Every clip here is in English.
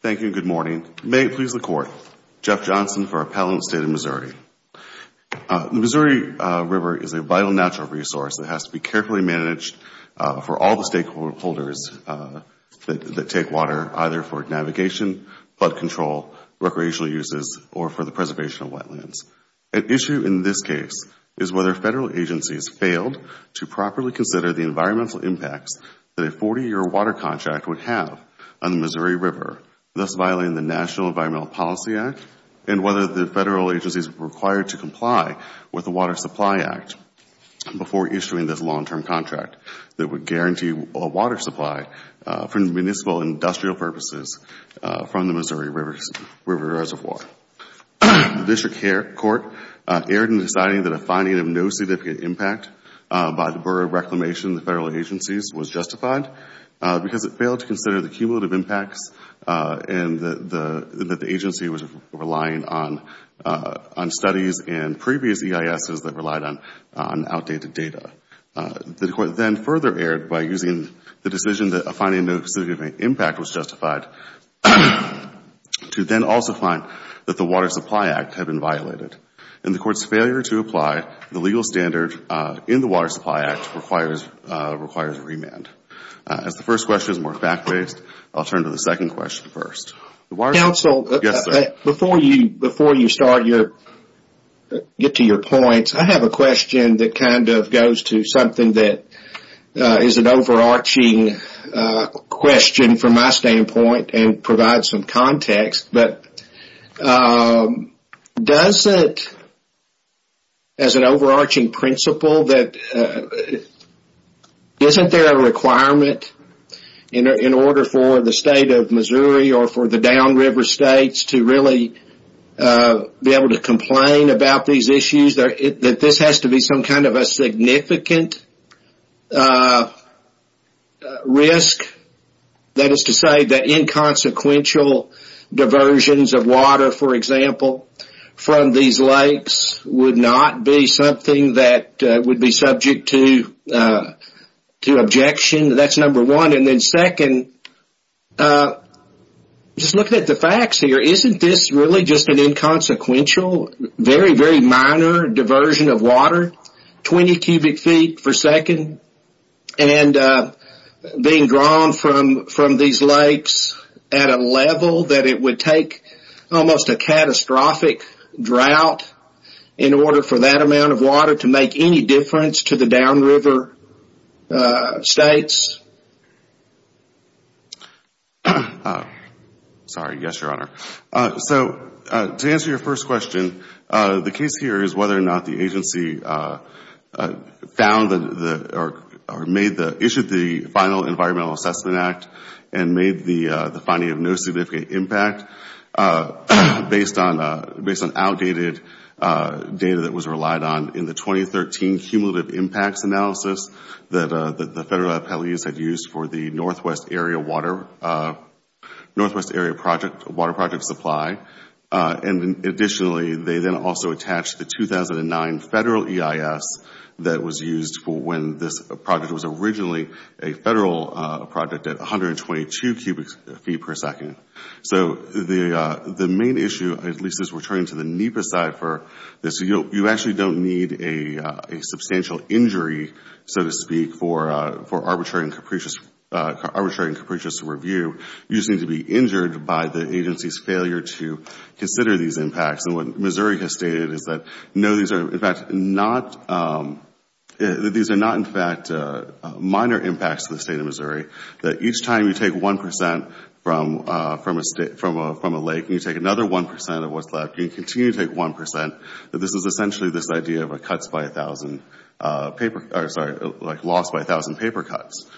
Thank you and good morning. May it please the Court, Jeff Johnson for Appellant State in Missouri. The Missouri River is a vital natural resource that has to be carefully managed for all the stakeholders that take water, either for navigation, flood control, recreational uses, or for the preservation of wetlands. An issue in this case is whether Federal agencies failed to properly consider the environmental impacts that a 40-year water contract would have on the Missouri River, thus violating the National Environmental Policy Act, and whether the Federal agencies were required to comply with the Water Supply Act before issuing this long-term contract that would guarantee a water supply for municipal industrial purposes from the Missouri River Reservoir. The District Court erred in deciding that a finding of no significant impact by the Bureau of Reclamation and the Federal and that the agency was relying on studies and previous EISs that relied on outdated data. The Court then further erred by using the decision that a finding of no significant impact was justified to then also find that the Water Supply Act had been violated. In the Court's failure to apply the legal standard in the Water Supply Act requires a remand. As the first question is more fact-based, I'll turn to the second question first. Council, before you get to your points, I have a question that kind of goes to something that is an overarching question from my standpoint and provides some context. Does it, as an requirement, in order for the state of Missouri or for the downriver states to really be able to complain about these issues, that this has to be some kind of a significant risk? That is to say that inconsequential diversions of water, for example, from these lakes would not be something that would be subject to objection. That is number one. Second, just looking at the facts here, isn't this really just an inconsequential, very very minor diversion of water, 20 cubic feet per second, and being drawn from these lakes at a level that it would take almost a catastrophic drought in order for that amount of water to make any difference to the downriver states? Sorry. Yes, Your Honor. To answer your first question, the case here is whether or not the federal government issued the final Environmental Assessment Act and made the finding of no significant impact based on outdated data that was relied on in the 2013 cumulative impacts analysis that the federal appellees had used for the Northwest Area Water Project Supply. Additionally, they then also attached the 2009 federal EIS that was used for when this project was originally a federal project at 122 cubic feet per second. The main issue, at least as we are turning to the NEPA side for this, you actually don't need a substantial injury, so to speak, for arbitrary and capricious review. You just need to be injured by the agency's failure to consider these impacts. And what Missouri has stated is that no, these are not in fact minor impacts to the State of Missouri, that each time you take 1 percent from a lake and you take another 1 percent of what's left, you continue to take 1 percent. This is essentially this idea of a loss by 1,000 paper cuts.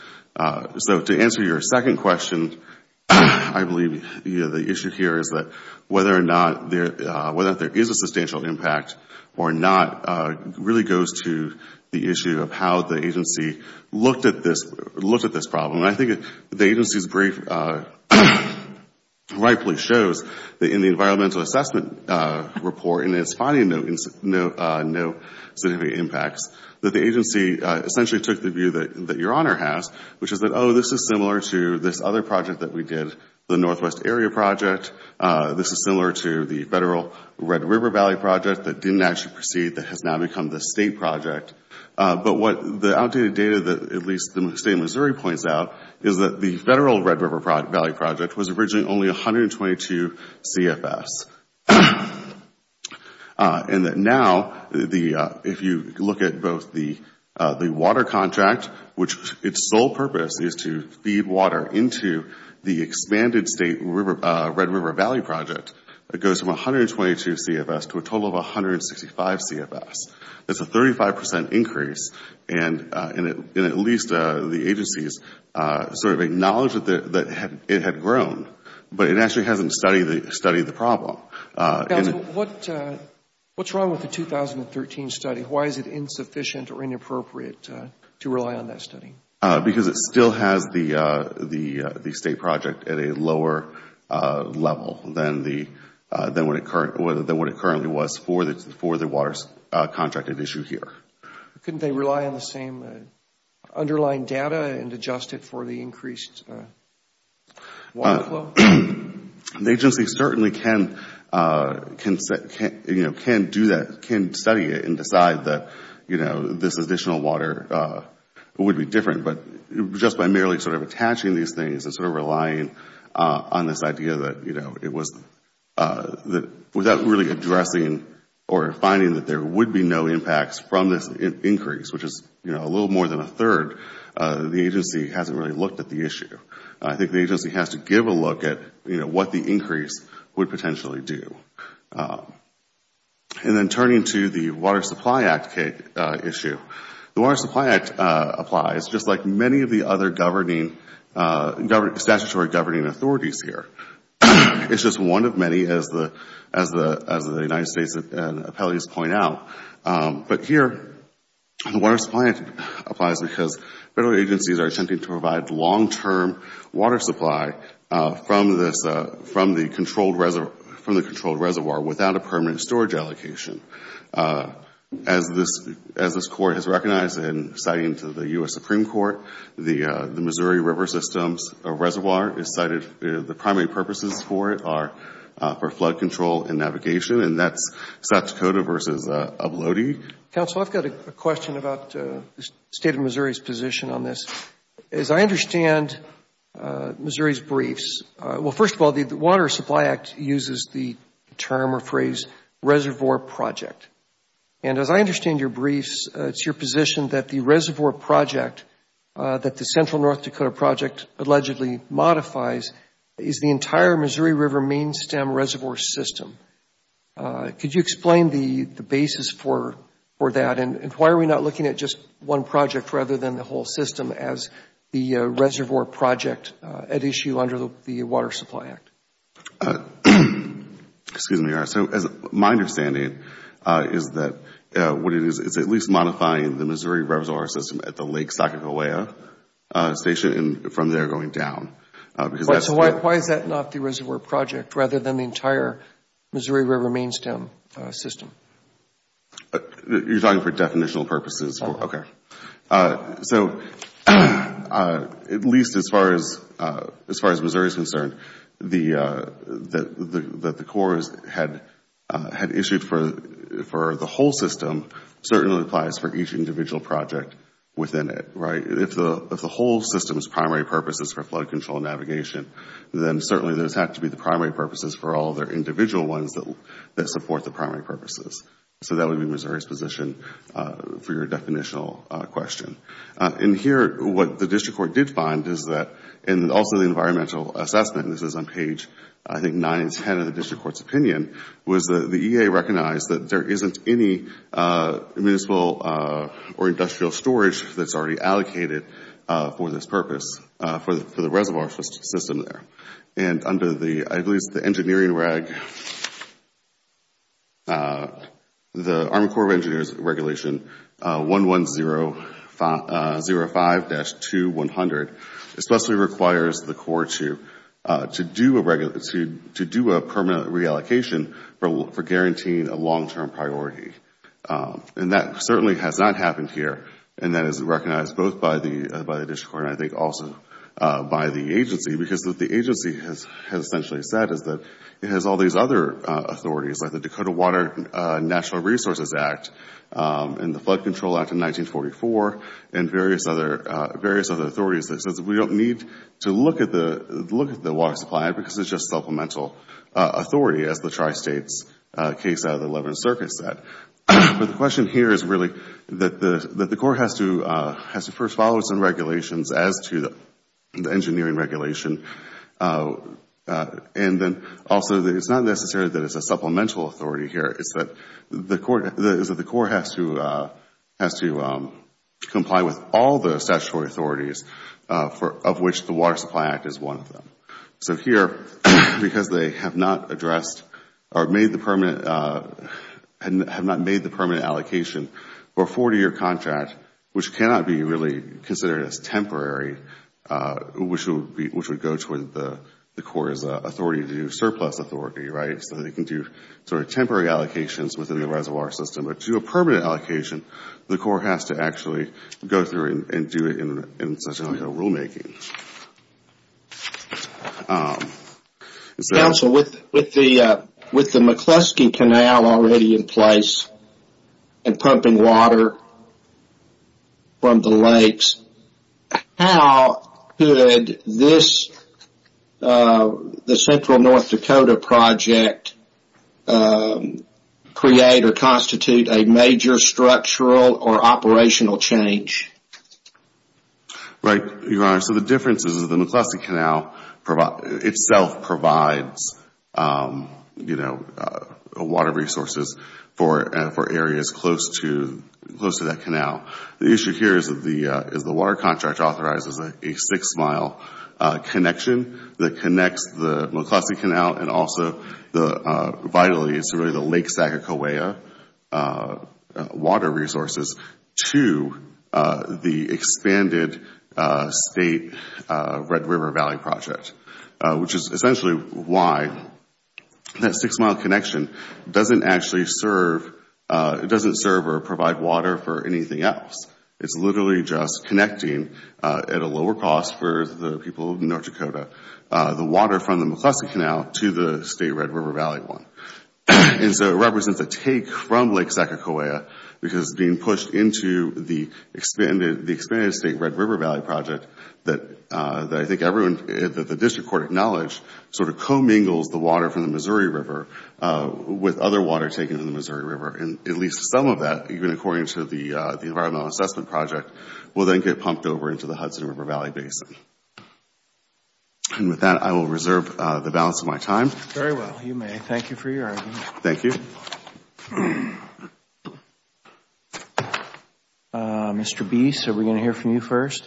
So to answer your second question, I believe the issue here is that whether or not there is a substantial impact or not really goes to the issue of how the agency looked at this problem. And I think the agency's brief rightfully shows that in the environmental assessment report, in its finding of no significant impacts, that the agency essentially took the view that your Honor has, which is that, oh, this is similar to this other project that we did, the Northwest Area Project. This is similar to the Federal Red River Valley Project that didn't actually proceed, that has now become the State project. But what the outdated data that at least the State of Missouri points out is that the Federal Red River Valley Project was originally only 122 CFS. And that now, if you look at both the water contract and the federal, which its sole purpose is to feed water into the expanded State Red River Valley Project, it goes from 122 CFS to a total of 165 CFS. That's a 35 percent increase and at least the agency's sort of acknowledged that it had grown. But it actually hasn't studied the problem. What's wrong with the 2013 study? Why is it insufficient or inappropriate to rely on that? Because it still has the State project at a lower level than what it currently was for the water contracted issue here. Couldn't they rely on the same underlying data and adjust it for the increased water flow? The agency certainly can study it and decide that this additional water would be sufficient but just by merely attaching these things and relying on this idea that without really addressing or finding that there would be no impacts from this increase, which is a little more than a third, the agency hasn't really looked at the issue. I think the agency has to give a look at what the increase would potentially do. Then turning to the Water Supply Act issue, the Water Supply Act applies just like many of the other statutory governing authorities here. It's just one of many, as the United States and appellees point out. But here, the Water Supply Act applies because federal agencies are attempting to provide long-term water supply from the controlled reservoirs without a permanent storage allocation. As this Court has recognized in citing to the U.S. Supreme Court, the Missouri River Systems Reservoir is cited, the primary purposes for it are for flood control and navigation, and that's South Dakota versus Uplody. Counsel, I've got a question about the State of Missouri's position on this. As I understand Missouri's briefs, well, first of all, the Water Supply Act uses the term or phrase reservoir project. And as I understand your briefs, it's your position that the reservoir project that the Central North Dakota Project allegedly modifies is the entire Missouri River Main Stem Reservoir System. Could you explain the basis for that, and why are we not looking at just one project rather than the whole system as the reservoir project at issue under the Water Supply Act? Excuse me, Your Honor. My understanding is that what it is, it's at least modifying the Missouri River Reservoir System at the Lake Sakakawea Station and from there going down. So why is that not the reservoir project rather than the entire Missouri River Main Stem System? You're talking for definitional purposes. So at least as far as Missouri is concerned, that the Corps had issued for the whole system certainly applies for each individual project within it. If the whole system's primary purpose is for flood control and navigation, then certainly those have to be the primary purposes for all their individual ones that support the primary purposes. So that would be Missouri's position for your definitional question. In here, what the District Court did find is that, and also the environmental assessment, this is on page I think 9 and 10 of the District Court's opinion, was that the EA recognized that there isn't any municipal or industrial storage that's already allocated for this engineering reg. The Army Corps of Engineers Regulation 11005-2100 especially requires the Corps to do a permanent reallocation for guaranteeing a long-term priority. That certainly has not happened here and that is recognized both by the District Court and I think also by the agency because what the agency has essentially said is that it has all these other authorities like the Dakota Water and Natural Resources Act and the Flood Control Act of 1944 and various other authorities that says we don't need to look at the water supply because it's just supplemental authority, as the tri-states case out of the 11th Circuit said. But the question here is really that the Corps has to first follow some regulations as to the engineering regulation and then also it's not necessarily that it's a supplemental authority here. It's that the Corps has to comply with all the statutory authorities of which the Water Supply Act is one of them. So here, because they have not addressed or have not made the permanent allocation for a 40-year contract, which cannot be really considered as temporary, which would go toward the Corps' authority to do surplus authority, right? So they can do sort of temporary allocations within the reservoir system. But to do a permanent allocation, the Corps has to actually go through and do it in such and such a way of rule-making. Counsel, with the McCluskey Canal already in place and pumping water from the lakes to the canals, how could this, the Central North Dakota project, create or constitute a major structural or operational change? Right, Your Honor. So the difference is that the McCluskey Canal itself provides water resources for areas close to that canal. The issue here is that the water contract authorizes a six-mile connection that connects the McCluskey Canal and also vitally the Lake Sacagawea water resources to the expanded State Red River Valley project, which is essentially why that six-mile connection doesn't actually serve or provide water for anything else. It's literally just connecting, at a lower cost for the people of North Dakota, the water from the McCluskey Canal to the State Red River Valley one. And so it represents a take from Lake Sacagawea, which is being pushed into the expanded State Red River Valley project that I think everyone, that the District Court acknowledged sort of co-mingles the water from the Missouri River with other water taken from the Missouri River. And at least some of that, even according to the environmental assessment project, will then get pumped over into the Hudson River Valley Basin. And with that, I will reserve the balance of my time. Very well. You may. Thank you for your argument. Thank you. Mr. Biese, are we going to hear from you first?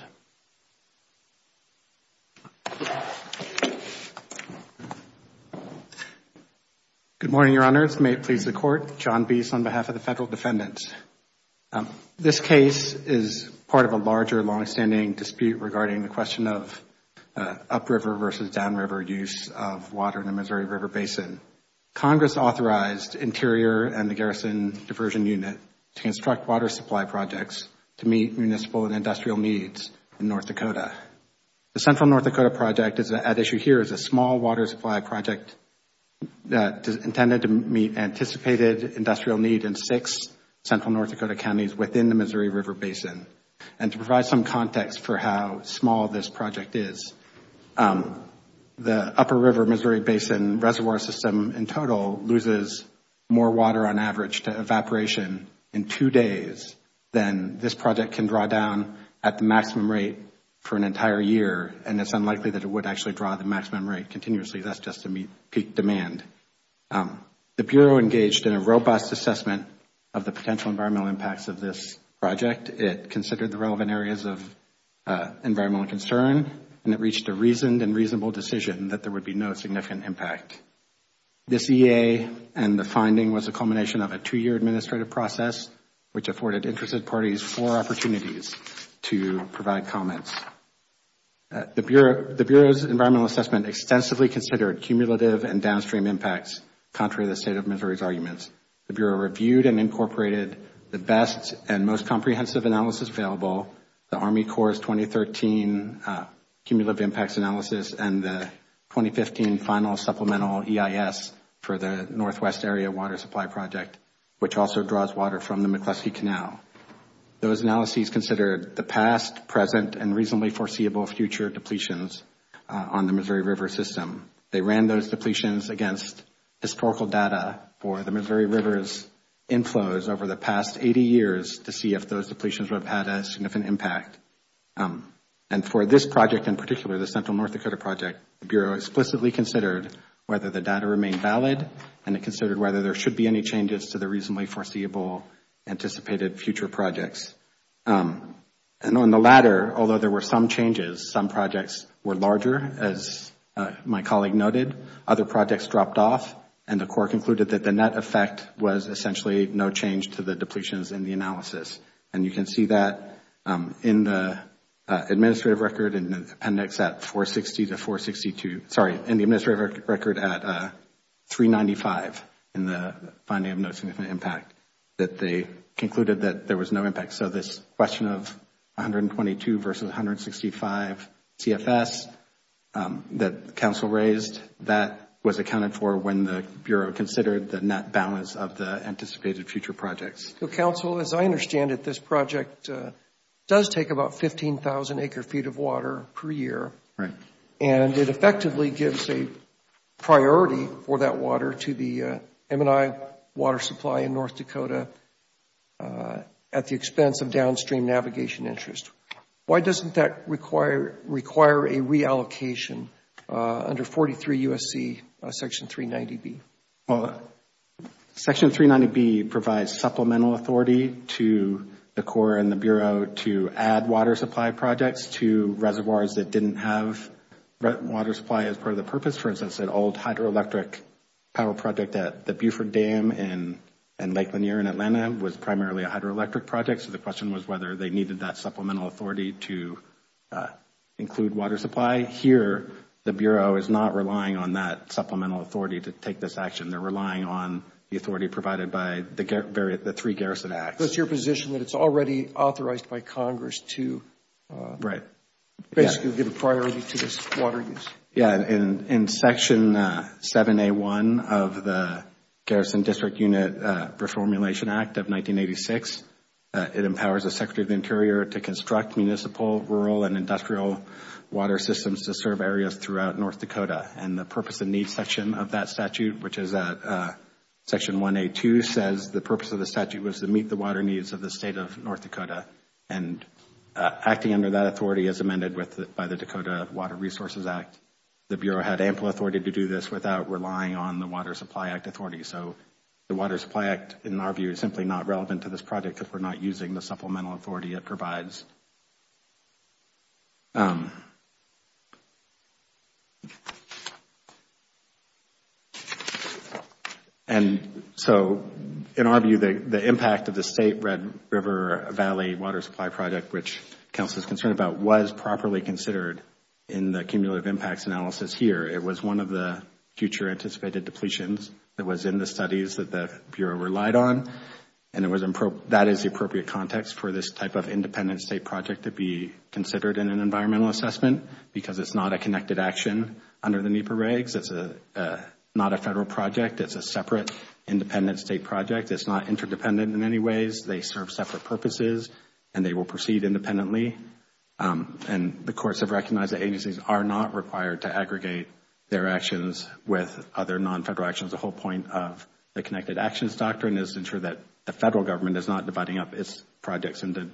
Good morning, Your Honors. May it please the Court. John Biese on behalf of the Federal Defendants. This case is part of a larger, longstanding dispute regarding the question of upriver versus downriver use of water in the Missouri River Basin. Congress authorized Interior and the Garrison Diversion Unit to construct water supply projects to meet municipal and industrial needs in North Dakota. The Central North Dakota project at issue here is a small water supply project intended to meet anticipated industrial need in six Central North Dakota counties within the Missouri River Basin. And to provide some context for how small this project is, the Upper River Missouri Basin Reservoir System in total loses more water on average to evaporation in two days than this project can draw down at the maximum rate for an entire year. And it's unlikely that it would actually draw the maximum rate continuously. That's just a peak demand. The Bureau engaged in a robust assessment of the potential environmental impacts of this project. It considered the relevant areas of environmental concern and it reached a reasoned and reasonable decision that there would be no significant impact. This EA and the finding was a culmination of a two-year administrative process which afforded interested parties four opportunities to provide comments. The Bureau's environmental assessment extensively considered cumulative and downstream impacts contrary to the State of Missouri's arguments. The Bureau reviewed and incorporated the best and most comprehensive analysis available, the Army Corps' 2013 Cumulative Impacts Analysis and the 2015 Final Supplemental EIS for the Northwest Area Water Supply Project, which also draws water from the McCluskey Canal. Those analyses considered the past, present, and reasonably foreseeable future depletions on the Missouri River system. They ran those depletions against historical data for the Missouri River's inflows over the past 80 years to see if those depletions would have had a significant impact. And for this project in particular, the Central North Dakota Project, the Bureau explicitly considered whether the data remained valid and it considered whether there should be any changes to the reasonably foreseeable anticipated future projects. And on the latter, although there were some changes, some projects were larger, as my colleague noted, other projects dropped off, and the Corps concluded that the net effect was essentially no change to the depletions in the analysis. And you can see that in the administrative record in the appendix at 460 to 462, sorry, in the administrative record at 395 in the finding of no significant impact, that they concluded that there was no impact. So this question of 122 versus 165 CFS that counsel raised, that was accounted for when the Bureau considered the net balance of the anticipated future projects. So, counsel, as I understand it, this project does take about 15,000 acre feet of water per year. Right. And it effectively gives a priority for that water to the M&I water supply in North Dakota at the expense of downstream navigation interest. Why doesn't that require a reallocation under 43 U.S.C. Section 390B? Section 390B provides supplemental authority to the Corps and the Bureau to add water supply projects to reservoirs that didn't have water supply as part of the purpose. For instance, an old hydroelectric power project at the Buford Dam in Lake Lanier in Atlanta was primarily a hydroelectric project, so the question was whether they needed that supplemental authority to include water supply. Here, the Bureau is not relying on that supplemental authority to take this action. They are relying on the authority provided by the three Garrison Acts. So it is your position that it is already authorized by Congress to basically give a priority to this water use? Yes. In Section 7A1 of the Garrison District Unit Reformulation Act of 1986, it empowers the Bureau to instruct municipal, rural, and industrial water systems to serve areas throughout North Dakota. And the purpose and needs section of that statute, which is at Section 1A2, says the purpose of the statute was to meet the water needs of the state of North Dakota, and acting under that authority is amended by the Dakota Water Resources Act. The Bureau had ample authority to do this without relying on the Water Supply Act authority. So the Water Supply Act, in our view, is simply not relevant to this project because we're not using the supplemental authority it provides. And so, in our view, the impact of the State Red River Valley Water Supply Project, which counsel is concerned about, was properly considered in the cumulative impacts analysis here. It was one of the future anticipated depletions that was in the studies that the Bureau relied on and that is the appropriate context for this type of independent State project to be considered in an environmental assessment because it is not a connected action under the NEPA regs. It is not a Federal project, it is a separate independent State project. It is not interdependent in any ways. They serve separate purposes and they will proceed independently and the courts have recognized that agencies are not required to aggregate their actions with other non-Federal actions. So that was the whole point of the connected actions doctrine is to ensure that the Federal Government is not dividing up its projects into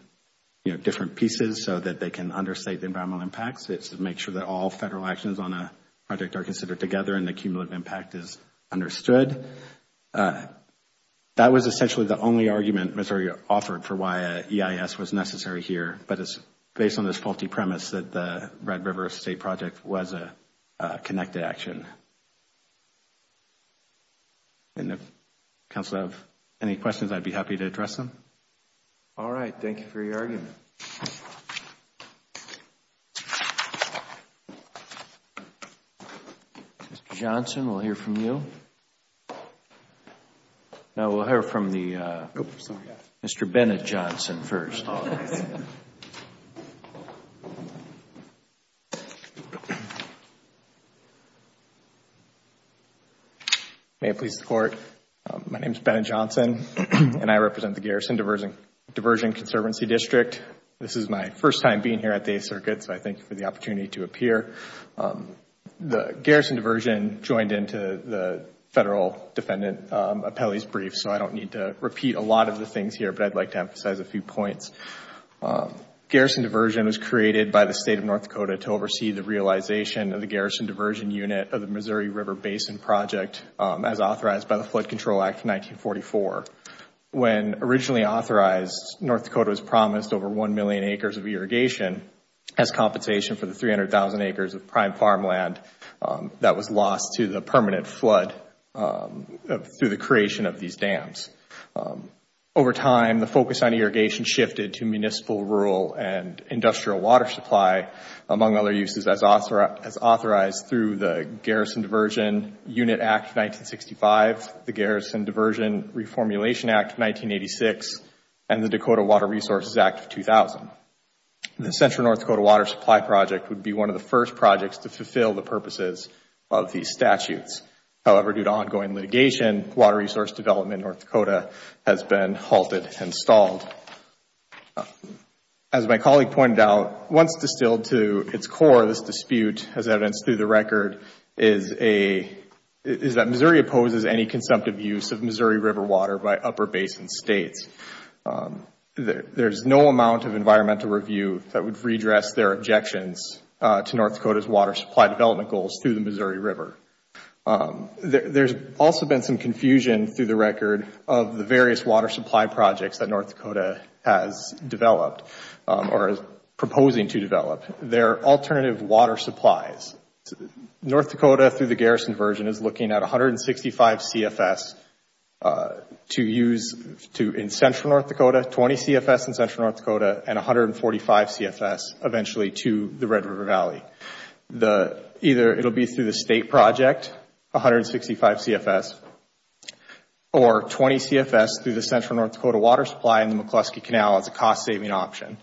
different pieces so that they can understate the environmental impacts. It is to make sure that all Federal actions on a project are considered together and the cumulative impact is understood. That was essentially the only argument Missouri offered for why EIS was necessary here, but it was based on this faulty premise that the Red River State project was a connected action. And if the Council has any questions, I would be happy to address them. All right. Thank you for your argument. Mr. Johnson, we will hear from you. Now, we will hear from Mr. Bennett Johnson first. May it please the Court, my name is Bennett Johnson and I represent the Garrison Diversion Conservancy District. This is my first time being here at the Eighth Circuit, so I thank you for the opportunity to appear. The Garrison Diversion joined into the Federal Defendant Appellee's Brief, so I don't need to repeat a lot of the things here, but I would like to emphasize a few points. Garrison Diversion was created by the State of North Dakota to oversee the realization of the Garrison Diversion Unit of the Missouri River Basin Project as authorized by the Flood Control Act of 1944. When originally authorized, North Dakota was promised over one million acres of irrigation as compensation for the 300,000 acres of prime farmland that was lost to the permanent flood through the creation of these dams. Over time, the focus on irrigation shifted to municipal, rural and industrial water supply, among other uses, as authorized through the Garrison Diversion Unit Act of 1965, the Garrison Diversion Reformulation Act of 1986 and the Dakota Water Resources Act of 2000. The Central North Dakota Water Supply Project would be one of the first projects to fulfill the purposes of these statutes. However, due to ongoing litigation, water resource development in North Dakota has been halted and stalled. As my colleague pointed out, once distilled to its core, this dispute, as evidenced through the record, is that Missouri opposes any consumptive use of Missouri River water by upper basin states. There is no amount of environmental review that would redress their objections to North Dakota's water supply development goals through the Missouri River. There has also been some confusion through the record of the various water supply projects that North Dakota has developed, or is proposing to develop, their alternative water supplies. North Dakota, through the Garrison Diversion, is looking at 165 CFS to use in Central North Dakota, 20 CFS in Central North Dakota, and 145 CFS eventually to the Red River Valley. Either it will be through the state project, 165 CFS, or 20 CFS through the Central North Dakota water supply in the McCluskey Canal as a cost-saving option.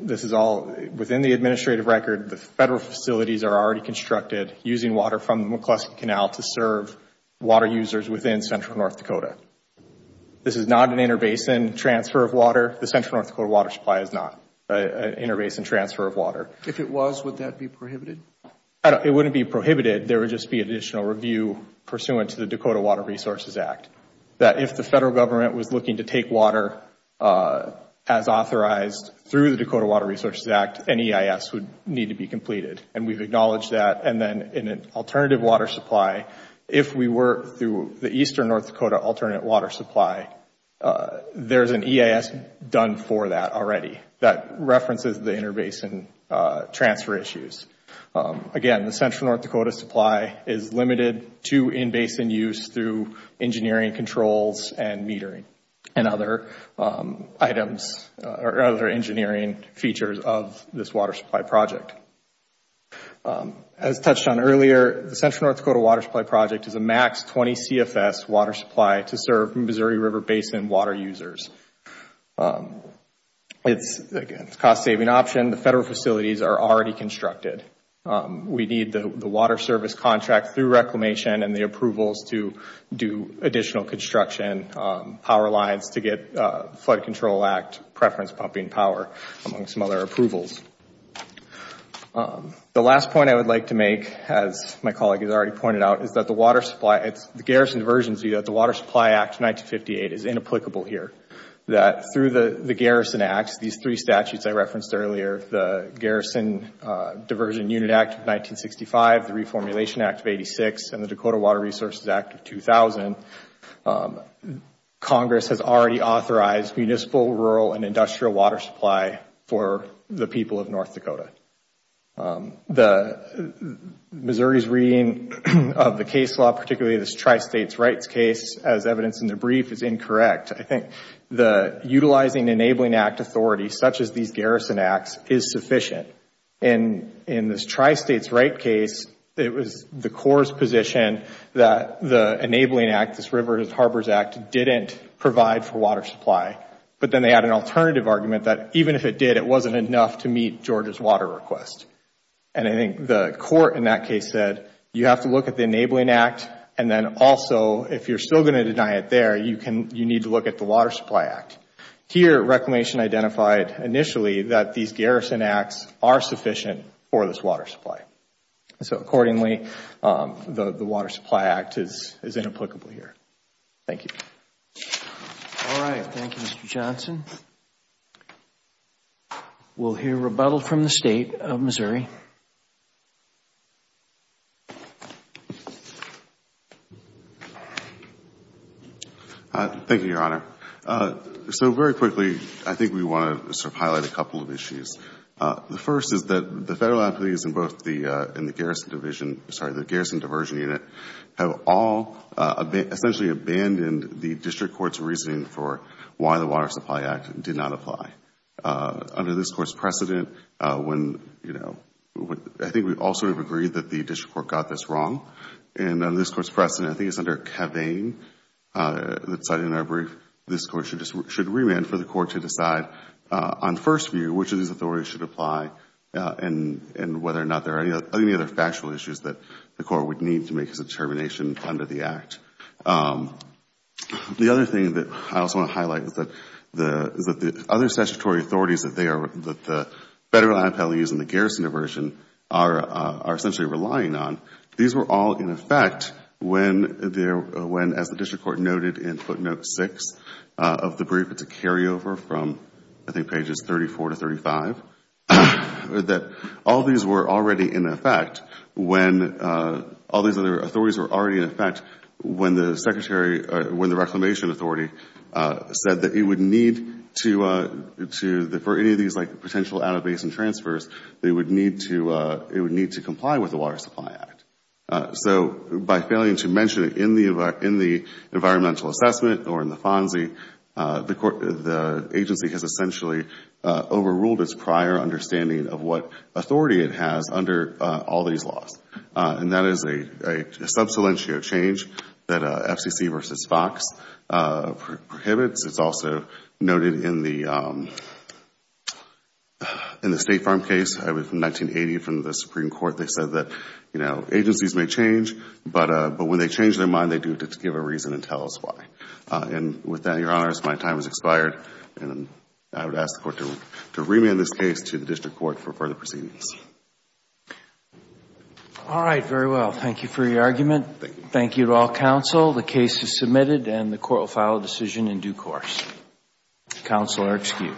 This is all within the administrative record. The Federal facilities are already constructed using water from the McCluskey Canal to serve water users within Central North Dakota. This is not an interbasin transfer of water. The Central North Dakota water supply is not an interbasin transfer of water. If it was, would that be prohibited? It wouldn't be prohibited. There would just be additional review pursuant to the Dakota Water Resources Act that if the Federal Government was looking to take water as authorized through the Dakota Water Resources Act, an EIS would need to be completed. And we've acknowledged that. And then in an alternative water supply, if we were through the Eastern North Dakota alternate water supply, there's an EIS done for that already that references the interbasin transfer issues. Again, the Central North Dakota supply is limited to in-basin use through engineering controls and metering and other engineering features of this water supply project. As touched on earlier, the Central North Dakota water supply project is a max 20 CFS water supply to serve Missouri River Basin water users. It's a cost-saving option. Again, the Federal facilities are already constructed. We need the water service contract through reclamation and the approvals to do additional construction power lines to get Flood Control Act preference pumping power, among some other approvals. The last point I would like to make, as my colleague has already pointed out, is that the Garrison's version is that the Water Supply Act of 1958 is inapplicable here. Through the Garrison Act, these three statutes I referenced earlier, the Garrison Diversion Unit Act of 1965, the Reformulation Act of 1986, and the Dakota Water Resources Act of 2000, Congress has already authorized municipal, rural, and industrial water supply for the people of North Dakota. Missouri's reading of the case law, particularly this tri-state rights case, as evidenced in the brief, is incorrect. I think the utilizing Enabling Act authority, such as these Garrison Acts, is sufficient. In this tri-state's right case, it was the Corps' position that the Enabling Act, this Rivers and Harbors Act, didn't provide for water supply. But then they had an alternative argument that even if it did, it wasn't enough to meet Georgia's water request. And I think the Corps, in that case, said you have to look at the Enabling Act, and then also, if you're still going to deny it there, you need to look at the Water Supply Act. Here, Reclamation identified initially that these Garrison Acts are sufficient for this water supply. So accordingly, the Water Supply Act is inapplicable here. Thank you. All right. Thank you, Mr. Johnson. We'll hear rebuttal from the State of Missouri. Thank you, Your Honor. So very quickly, I think we want to sort of highlight a couple of issues. The first is that the Federal authorities in both the Garrison Division, sorry, the District Court's reasoning for why the Water Supply Act did not apply. Under this Court's precedent, I think we all sort of agreed that the District Court got this wrong. And under this Court's precedent, I think it's under Kavanaugh that cited in our brief, this Court should remand for the Court to decide on first view which of these authorities should apply and whether or not there are any other factual issues that the Court would need to make its determination under the Act. The other thing that I also want to highlight is that the other statutory authorities that they are, that the Federal IPLEs and the Garrison Division are essentially relying on, these were all in effect when, as the District Court noted in footnote 6 of the brief, it's a carryover from I think pages 34 to 35, that all these were already in effect when, all these other authorities were already in effect when the Secretary, when the Reclamation Authority said that it would need to, for any of these like potential out of basin transfers, they would need to, it would need to comply with the Water Supply Act. So by failing to mention it in the environmental assessment or in the FONSI, the agency has essentially overruled its prior understanding of what authority it has under all these laws. And that is a sub salientio change that FCC v. Fox prohibits. It's also noted in the State Farm case from 1980 from the Supreme Court, they said that agencies may change, but when they change their mind, they do it to give a reason and tell us why. And with that, Your Honors, my time has expired and I would ask the Court to remand this case to the District Court for further proceedings. All right. Very well. Thank you for your argument. Thank you. Thank you to all counsel. The case is submitted and the Court will file a decision in due course. Counsel are excused.